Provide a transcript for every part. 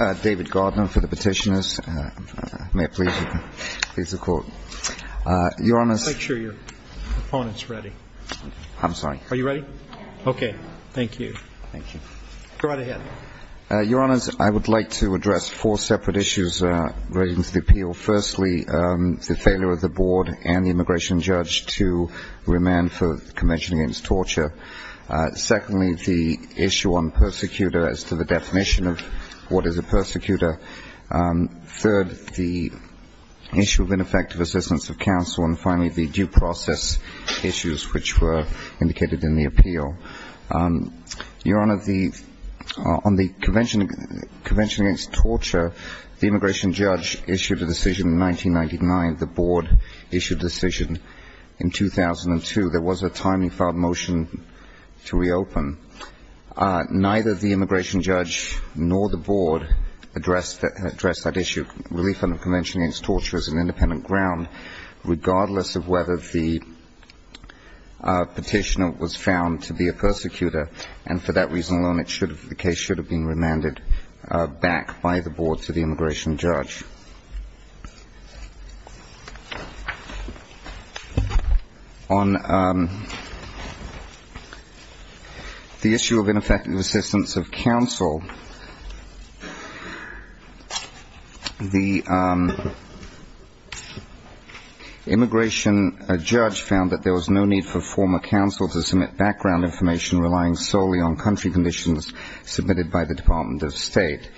I would like to address four separate issues relating to the appeal. Firstly, the failure of the board and the immigration judge to remand for the Convention Against Torture. Secondly, the issue on persecutor as to the definition of what is a persecutor. Third, the issue of ineffective assistance of counsel. And finally, the due process issues which were indicated in the appeal. Your Honor, on the Convention Against Torture, the immigration judge issued a decision in 1999. The board issued a decision in 2002. There was a timely filed motion to reopen. Neither the immigration judge nor the board addressed that issue. Relief under Convention Against Torture is an independent ground regardless of whether the petitioner was found to be a persecutor. And for that reason alone, the case should have been remanded back by the board to the immigration judge. On the issue of ineffective assistance of counsel, the immigration judge found that there was no need for former counsel to submit background information relying solely on country conditions submitted by the Department of State.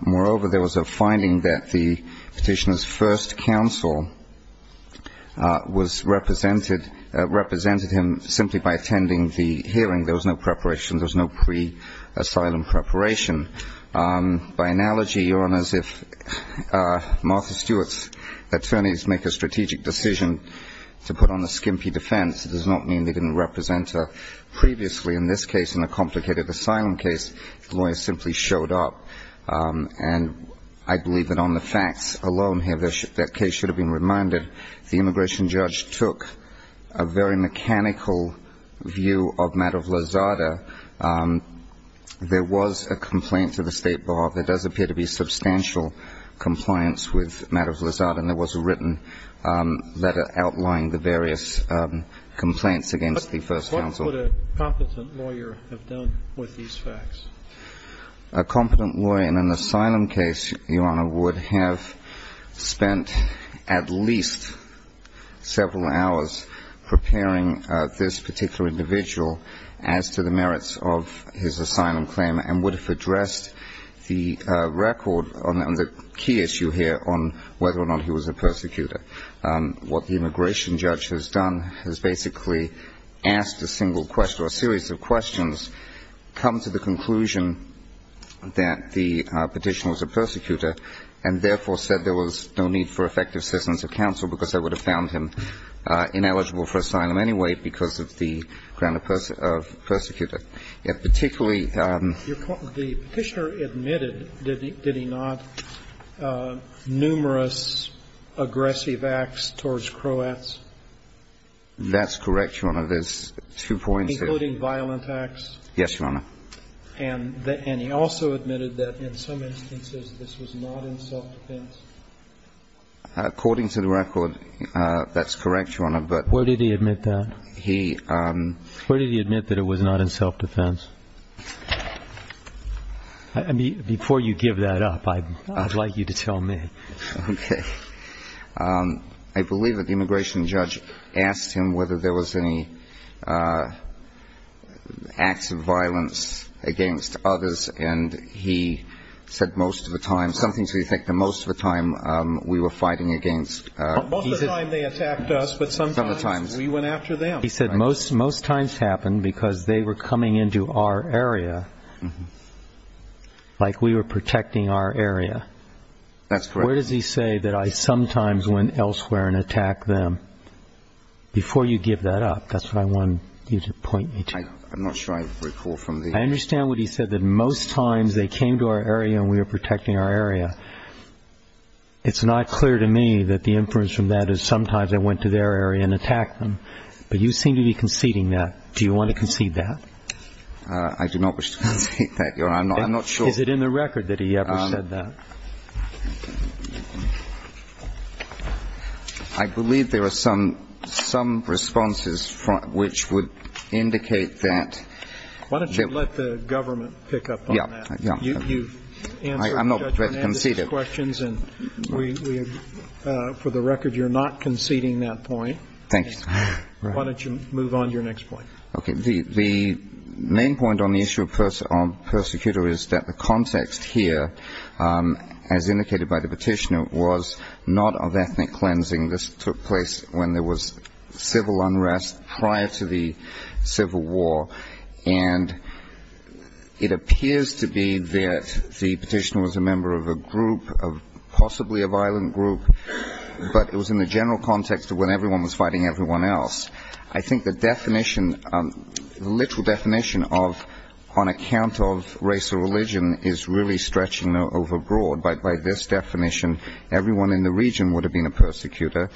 Moreover, there was a finding that the petitioner's first counsel represented him simply by attending the hearing. There was no pre-asylum preparation. By analogy, Your Honor, if Martha Stewart's attorneys make a strategic decision to put on a skimpy defense, it does not mean they didn't represent her previously. In this case, in a complicated asylum case, the lawyer simply showed up. And I believe that on the facts alone here, that case should have been reminded. The immigration judge took a very mechanical view of Madoff-Lazada. There was a complaint to the State Bar. There does appear to be substantial compliance with Madoff-Lazada. And there was a written letter outlining the various complaints against the first counsel. What would a competent lawyer have done with these facts? A competent lawyer in an asylum case, Your Honor, would have spent at least several hours preparing this particular individual as to the merits of his asylum claim and would have addressed the record on the key issue here on whether or not he was a persecutor. What the immigration judge has done is basically asked a single question or a series of questions, come to the conclusion that the Petitioner was a persecutor, and therefore said there was no need for effective assistance of counsel because they would have found him ineligible for asylum anyway because of the ground of persecutor. Yet particularly Your point, the Petitioner admitted, did he not, numerous aggressive acts towards Croats? That's correct, Your Honor. There's two points here. Including violent acts? Yes, Your Honor. And he also admitted that in some instances this was not in self-defense? According to the record, that's correct, Your Honor, but... Where did he admit that? He... Where did he admit that it was not in self-defense? Before you give that up, I'd like you to tell me. Okay. I believe that the immigration judge asked him whether there was any acts of violence against others, and he said most of the time, something to the effect that most of the time we were fighting against... Most of the time they attacked us, but sometimes we went after them. He said most times happened because they were coming into our area like we were protecting our area. That's correct. Where does he say that I sometimes went elsewhere and attacked them? Before you give that up, that's what I want you to point me to. I'm not sure I recall from the... I understand what he said, that most times they came to our area and we were protecting our area. It's not clear to me that the inference from that is sometimes I went to their area and attacked them, but you seem to be conceding that. Do you want to concede that? I do not wish to concede that, Your Honor. I'm not sure... Is it in the record that he ever said that? I believe there are some responses which would indicate that... Why don't you let the government pick up on that? Yeah, yeah. You've answered the judge's questions, and for the record, you're not conceding that point. Thank you, sir. Why don't you move on to your next point? Okay, the main point on the issue of persecutor is that the context here, as indicated by the petitioner, was not of ethnic cleansing. This took place when there was civil unrest prior to the Civil War, and it appears to be that the petitioner was a member of a group, of possibly a violent group, but it was in the general context of when everyone was fighting everyone else. I think the definition, literal definition, on account of race or religion is really stretching overbroad. By this definition, everyone in the region would have been a persecutor.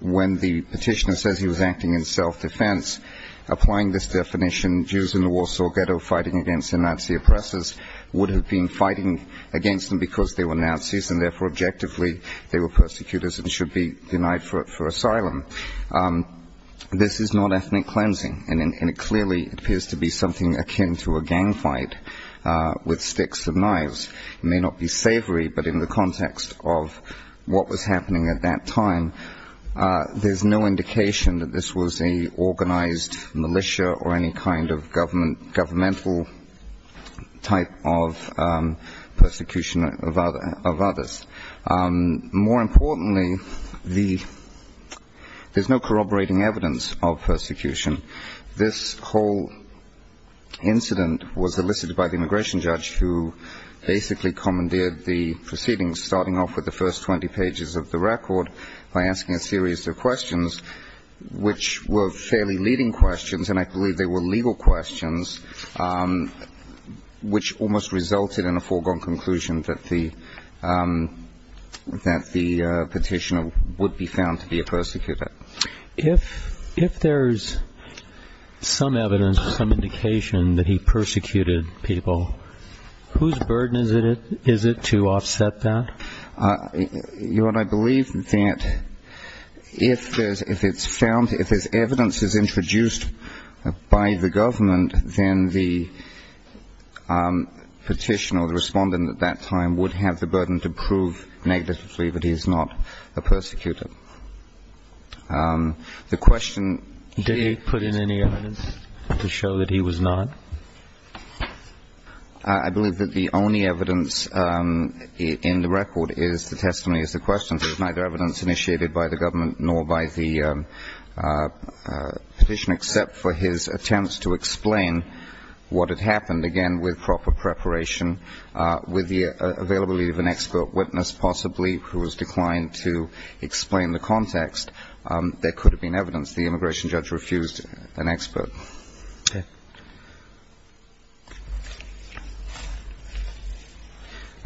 When the petitioner says he was acting in self-defense, applying this definition, Jews in the Warsaw Ghetto fighting against the Nazi oppressors would have been fighting against them because they were Nazis, and therefore, objectively, this is not ethnic cleansing, and it clearly appears to be something akin to a gang fight with sticks and knives. It may not be savory, but in the context of what was happening at that time, there's no indication that this was an organized militia or any kind of governmental type of persecution of others. More importantly, there's no corroborating evidence of persecution. This whole incident was elicited by the immigration judge who basically commandeered the proceedings, starting off with the first 20 pages of the record by asking a series of questions which were fairly leading questions, and I believe they were legal questions, which almost resulted in a foregone conclusion that the petitioner would be found to be a persecutor. If there's some evidence, some indication that he persecuted people, whose burden is it to offset that? You know what, I believe that if it's found, if this evidence is introduced by the government, then the petitioner, the respondent at that time would have the burden to prove negatively that he's not a persecutor. The question... Did he put in any evidence to show that he was not? I believe that the only evidence in the record is the testimony is the question. There's neither evidence initiated by the government nor by the petitioner, except for his attempts to explain what had happened, again, with proper preparation, with the availability of an expert witness, possibly who has declined to explain the context. There could have been evidence. The immigration judge refused an expert. Okay.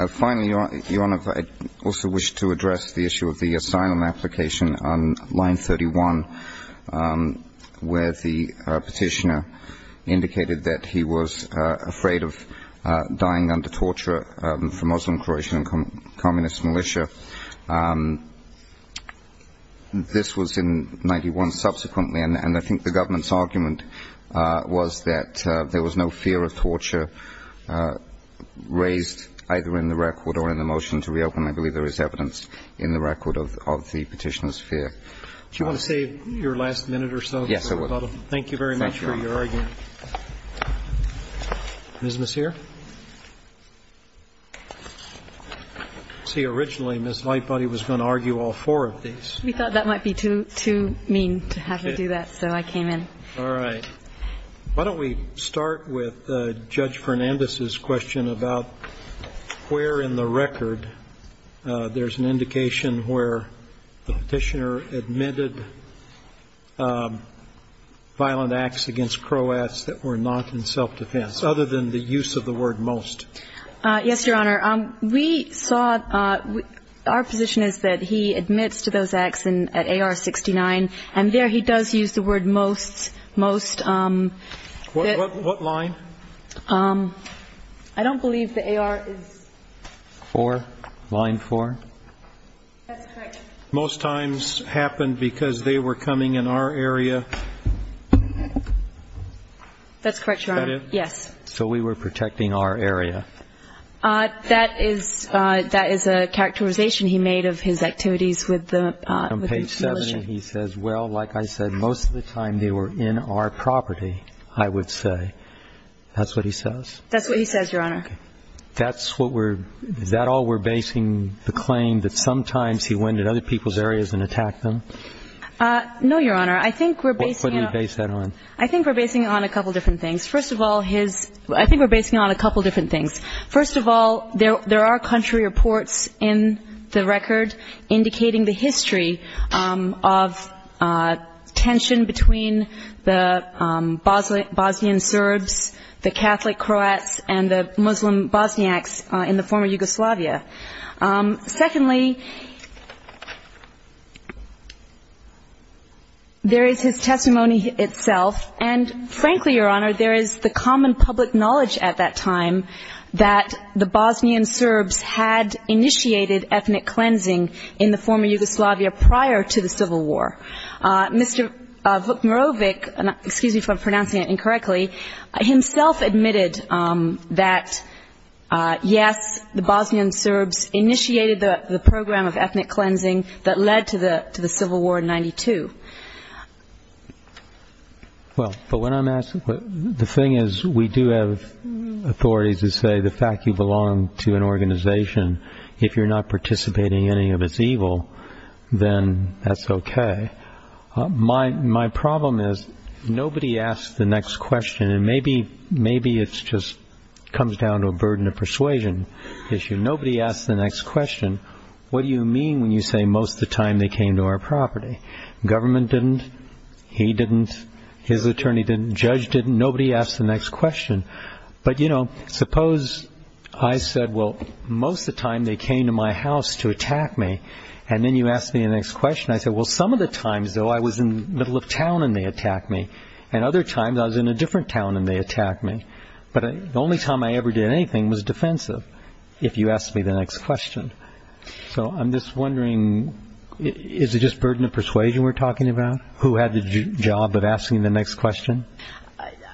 Finally, Your Honour, I also wish to address the issue of the asylum application on line 31, where the petitioner indicated that he was afraid of dying under torture from Muslim, Croatian and communist militia. This was in 91, subsequently, and I think the government's argument was that there was no fear of torture raised either in the record or in the motion to reopen. I believe there is evidence in the record of the petitioner's fear. Do you want to save your last minute or so? Yes, I will. Thank you very much for your argument. Thank you, Your Honour. Is Ms. here? See, originally, Ms. Lightbody was going to argue all four of these. We thought that might be too mean to have her do that, so I came in. All right. Why don't we start with Judge Fernandez's question about where in the record there's an indication where the petitioner admitted violent acts against Croats that were not in self-defense, other than the use of the word most? Yes, Your Honour. We saw, our position is that he admits to those acts at AR-69, and there he does use the word most, most. What line? I don't believe the AR is. Four, line four. That's correct. Most times happened because they were coming in our area. That's correct, Your Honour. Yes. So we were protecting our area. That is a characterization he made of his activities with the militia. He says, well, like I said, most of the time they were in our property, I would say. That's what he says. That's what he says, Your Honour. Is that all we're basing the claim that sometimes he went in other people's areas and attacked them? No, Your Honour. I think we're basing... What do you base that on? I think we're basing it on a couple different things. First of all, his... I think we're basing it on a couple different things. First of all, there are country reports in the record indicating the history of tension between the Bosnian Serbs, the Catholic Croats, and the Muslim Bosniaks in the former Yugoslavia. Secondly, there is his testimony itself. And frankly, Your Honour, there is the common public knowledge at that time that the Bosnian Serbs had initiated ethnic cleansing in the former Yugoslavia prior to the civil war. Mr. Vukmurovic, excuse me for pronouncing it incorrectly, himself admitted that, yes, the Bosnian Serbs initiated the program of ethnic cleansing that led to the civil war in 92. Well, but when I'm asking... The thing is, we do have authorities who say the fact you belong to an organization, if you're not participating in any of its evil, then that's okay. My problem is nobody asks the next question. Maybe it just comes down to a burden of persuasion issue. Nobody asks the next question. What do you mean when you say most of the time they came to our property? Government didn't. He didn't. His attorney didn't. Judge didn't. Nobody asked the next question. But, you know, suppose I said, well, most of the time they came to my house to attack me. And then you asked me the next question. I said, well, some of the times, though, I was in the middle of town and they attacked me. And other times I was in a different town and they attacked me. But the only time I ever did anything was defensive if you asked me the next question. So I'm just wondering, is it just burden of persuasion we're talking about? Who had the job of asking the next question?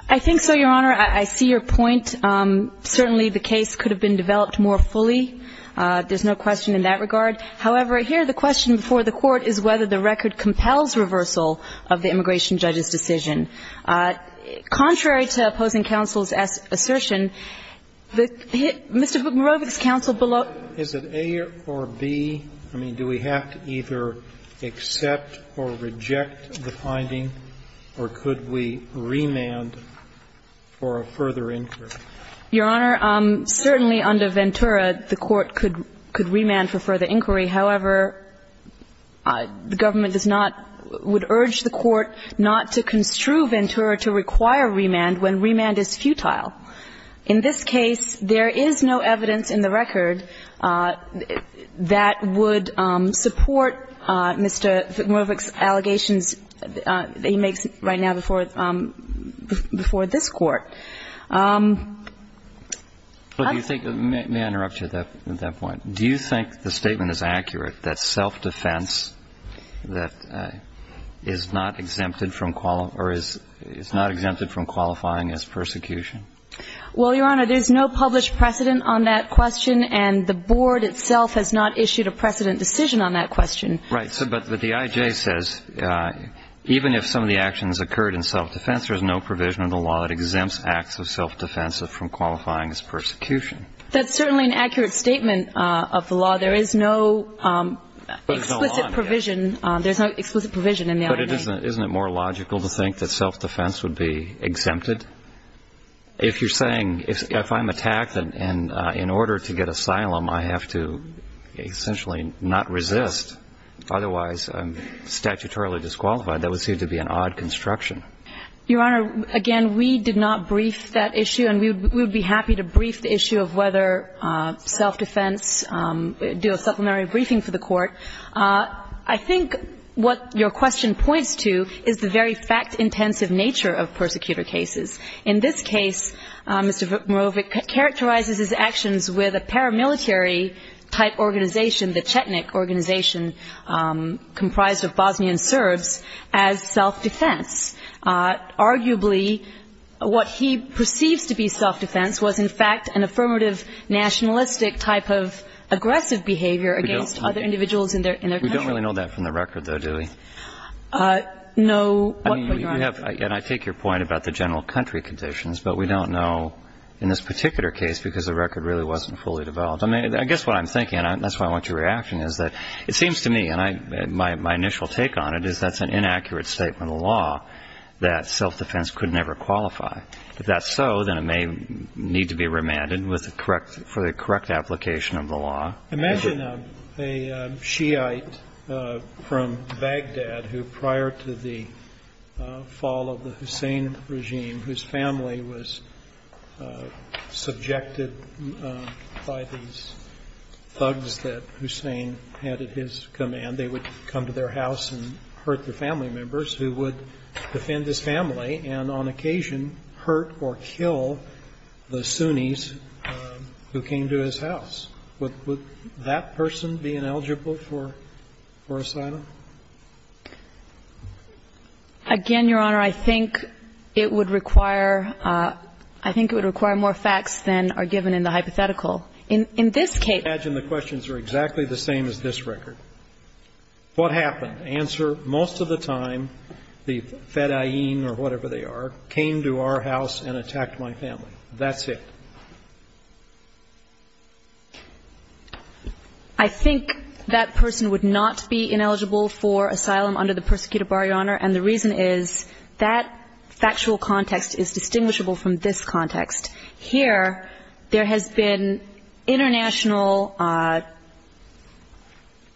I think so, Your Honor. I see your point. Certainly the case could have been developed more fully. There's no question in that regard. However, here the question before the court is whether the record compels reversal of the immigration judge's decision. Contrary to opposing counsel's assertion, Mr. Bukmurovic's counsel below ---- Is it A or B? I mean, do we have to either accept or reject the finding, or could we remand for a further inquiry? Your Honor, certainly under Ventura, the court could remand for further inquiry. However, the government does not ---- would urge the court not to construe Ventura to require remand when remand is futile. In this case, there is no evidence in the record that would support Mr. Bukmurovic's allegations that he makes right now before this Court. Do you think ---- let me interrupt you at that point. Do you think the statement is accurate that self-defense that is not exempted from ---- or is not exempted from qualifying as persecution? Well, Your Honor, there's no published precedent on that question, and the board itself has not issued a precedent decision on that question. Right. But the I.J. says even if some of the actions occurred in self-defense, there's no provision in the law that exempts acts of self-defense from qualifying as persecution. That's certainly an accurate statement of the law. There is no explicit provision. There's no explicit provision in the I.J. But isn't it more logical to think that self-defense would be exempted? If you're saying if I'm attacked and in order to get asylum, I have to essentially not resist, otherwise I'm statutorily disqualified, that would seem to be an odd construction. Your Honor, again, we did not brief that issue, and we would be happy to brief the issue of whether self-defense, do a supplementary briefing for the Court. I think what your question points to is the very fact-intensive nature of persecutor cases. In this case, Mr. Mirovic characterizes his actions with a paramilitary-type organization, the Chetnik organization, comprised of Bosnian Serbs, as self-defense. Arguably, what he perceives to be self-defense was, in fact, an affirmative nationalistic type of aggressive behavior against other individuals in their country. We don't really know that from the record, though, do we? No. I mean, you have, and I take your point about the general country conditions, but we don't know in this particular case because the record really wasn't fully developed. I mean, I guess what I'm thinking, and that's why I want your reaction, is that it seems to me, my initial take on it is that's an inaccurate statement of law that self-defense could never qualify. If that's so, then it may need to be remanded for the correct application of the law. Imagine a Shiite from Baghdad who, prior to the fall of the Hussein regime, whose family was their house and hurt their family members, who would defend his family and, on occasion, hurt or kill the Sunnis who came to his house. Would that person be ineligible for asylum? Again, Your Honor, I think it would require more facts than are given in the hypothetical. In this case, I imagine the questions are exactly the same as this record. What happened? The answer, most of the time, the fedayeen or whatever they are, came to our house and attacked my family. That's it. I think that person would not be ineligible for asylum under the persecuted bar, Your Honor, and the reason is that factual context is distinguishable from this context. Here, there has been international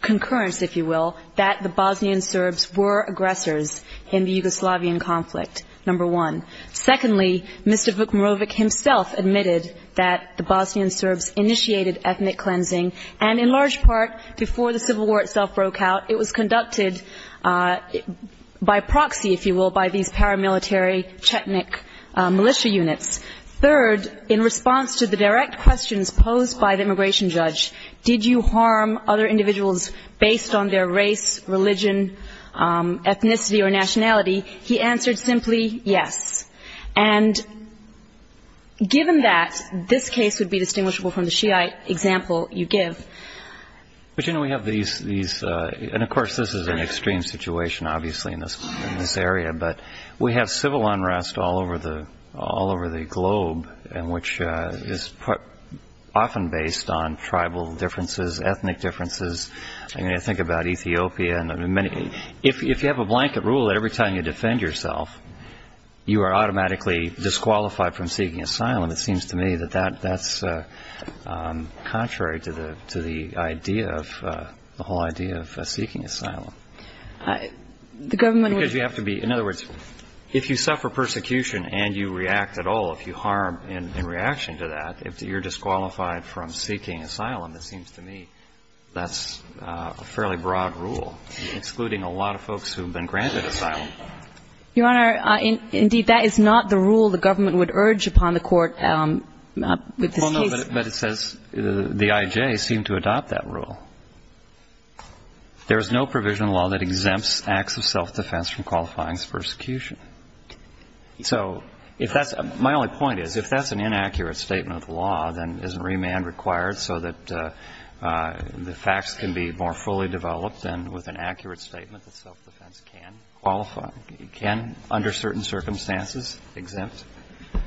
concurrence, if you will, that the Bosnian Serbs were aggressors in the Yugoslavian conflict, number one. Secondly, Mr. Vukmarovic himself admitted that the Bosnian Serbs initiated ethnic cleansing and, in large part, before the Civil War itself broke out, it was conducted by proxy, if you will, by these paramilitary Chetnik militia units. Third, in response to the direct questions posed by the immigration judge, did you harm other individuals based on their race, religion, ethnicity, or nationality, he answered simply, yes. And given that, this case would be distinguishable from the Shiite example you give. But, you know, we have these, and, of course, this is an extreme situation, obviously, in this area, but we have civil unrest all over the globe, which is often based on tribal differences, ethnic differences. I mean, I think about Ethiopia. If you have a blanket rule that every time you defend yourself, you are automatically disqualified from seeking asylum, it seems to me that that's contrary to the whole idea of seeking asylum. The government would... Because you have to be, in other words, if you suffer persecution and you react at all, if you harm in reaction to that, if you're disqualified from seeking asylum, it seems to me that's a fairly broad rule, excluding a lot of folks who have been granted asylum. Your Honor, indeed, that is not the rule the government would urge upon the Court with this case. Well, no, but it says the IJ seemed to adopt that rule. There is no provisional law that exempts acts of self-defense from qualifying as persecution. So if that's, my only point is, if that's an inaccurate statement of law, then isn't remand required so that the facts can be more fully developed and with an accurate statement that self-defense can qualify, can, under certain circumstances, exempt?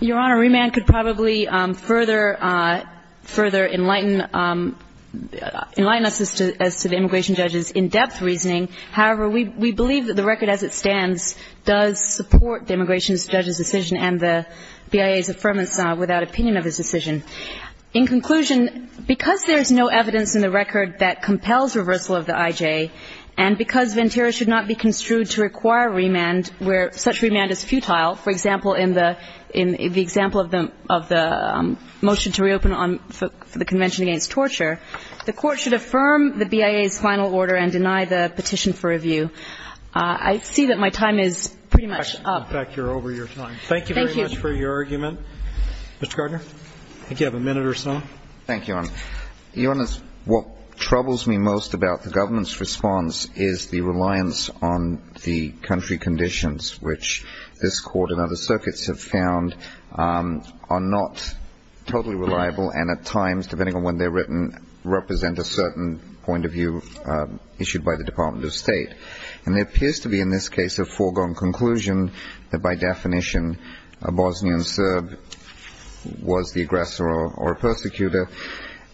Your Honor, remand could probably further enlighten us as to the immigration judge's in-depth reasoning. However, we believe that the record as it stands does support the immigration judge's decision and the BIA's affirmance without opinion of his decision. In conclusion, because there's no evidence in the record that compels reversal of the IJ, and because Ventura should not be construed to require remand where such remand is futile, for example, in the example of the motion to reopen for the Convention Against Torture, the Court should affirm the BIA's final order and deny the petition for review. I see that my time is pretty much up. In fact, you're over your time. Thank you very much for your argument. Mr. Gardner, I think you have a minute or so. Thank you, Your Honor. Your Honor, what troubles me most about the government's response is the reliance on the country conditions, which this Court and other circuits have found are not totally reliable and, at times, depending on when they're written, represent a certain point of view issued by the Department of State. And there appears to be, in this case, a foregone conclusion that, by definition, a Bosnian Serb was the aggressor or persecutor,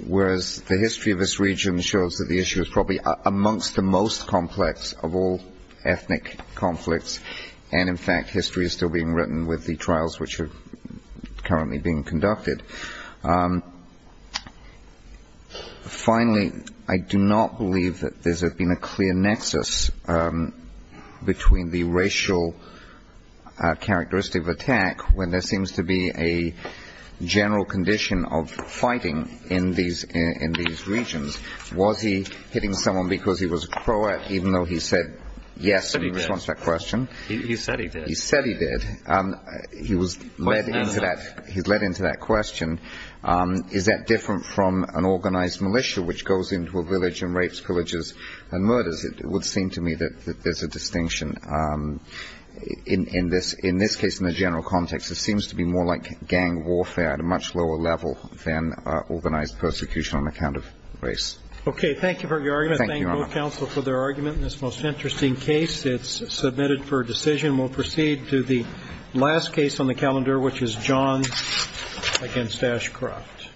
whereas the history of this region shows that the issue is probably amongst the most complex of all ethnic conflicts and, in fact, history is still being written with the trials which are currently being conducted. Finally, I do not believe that there's been a clear nexus between the racial characteristic of attack when there seems to be a general condition of fighting in these regions. Was he hitting someone because he was a Croat, even though he said yes in response to that question? He said he did. He said he did. He was led into that question. Is that different from an organized militia which goes into a village and rapes, pillages, and murders? It would seem to me that there's a distinction. In this case, in the general context, it seems to be more like a civil war. Okay. Thank you for your argument. Thank you, counsel, for their argument in this most interesting case. It's submitted for decision. We'll proceed to the last case on the calendar, which is Johns against Ashcroft.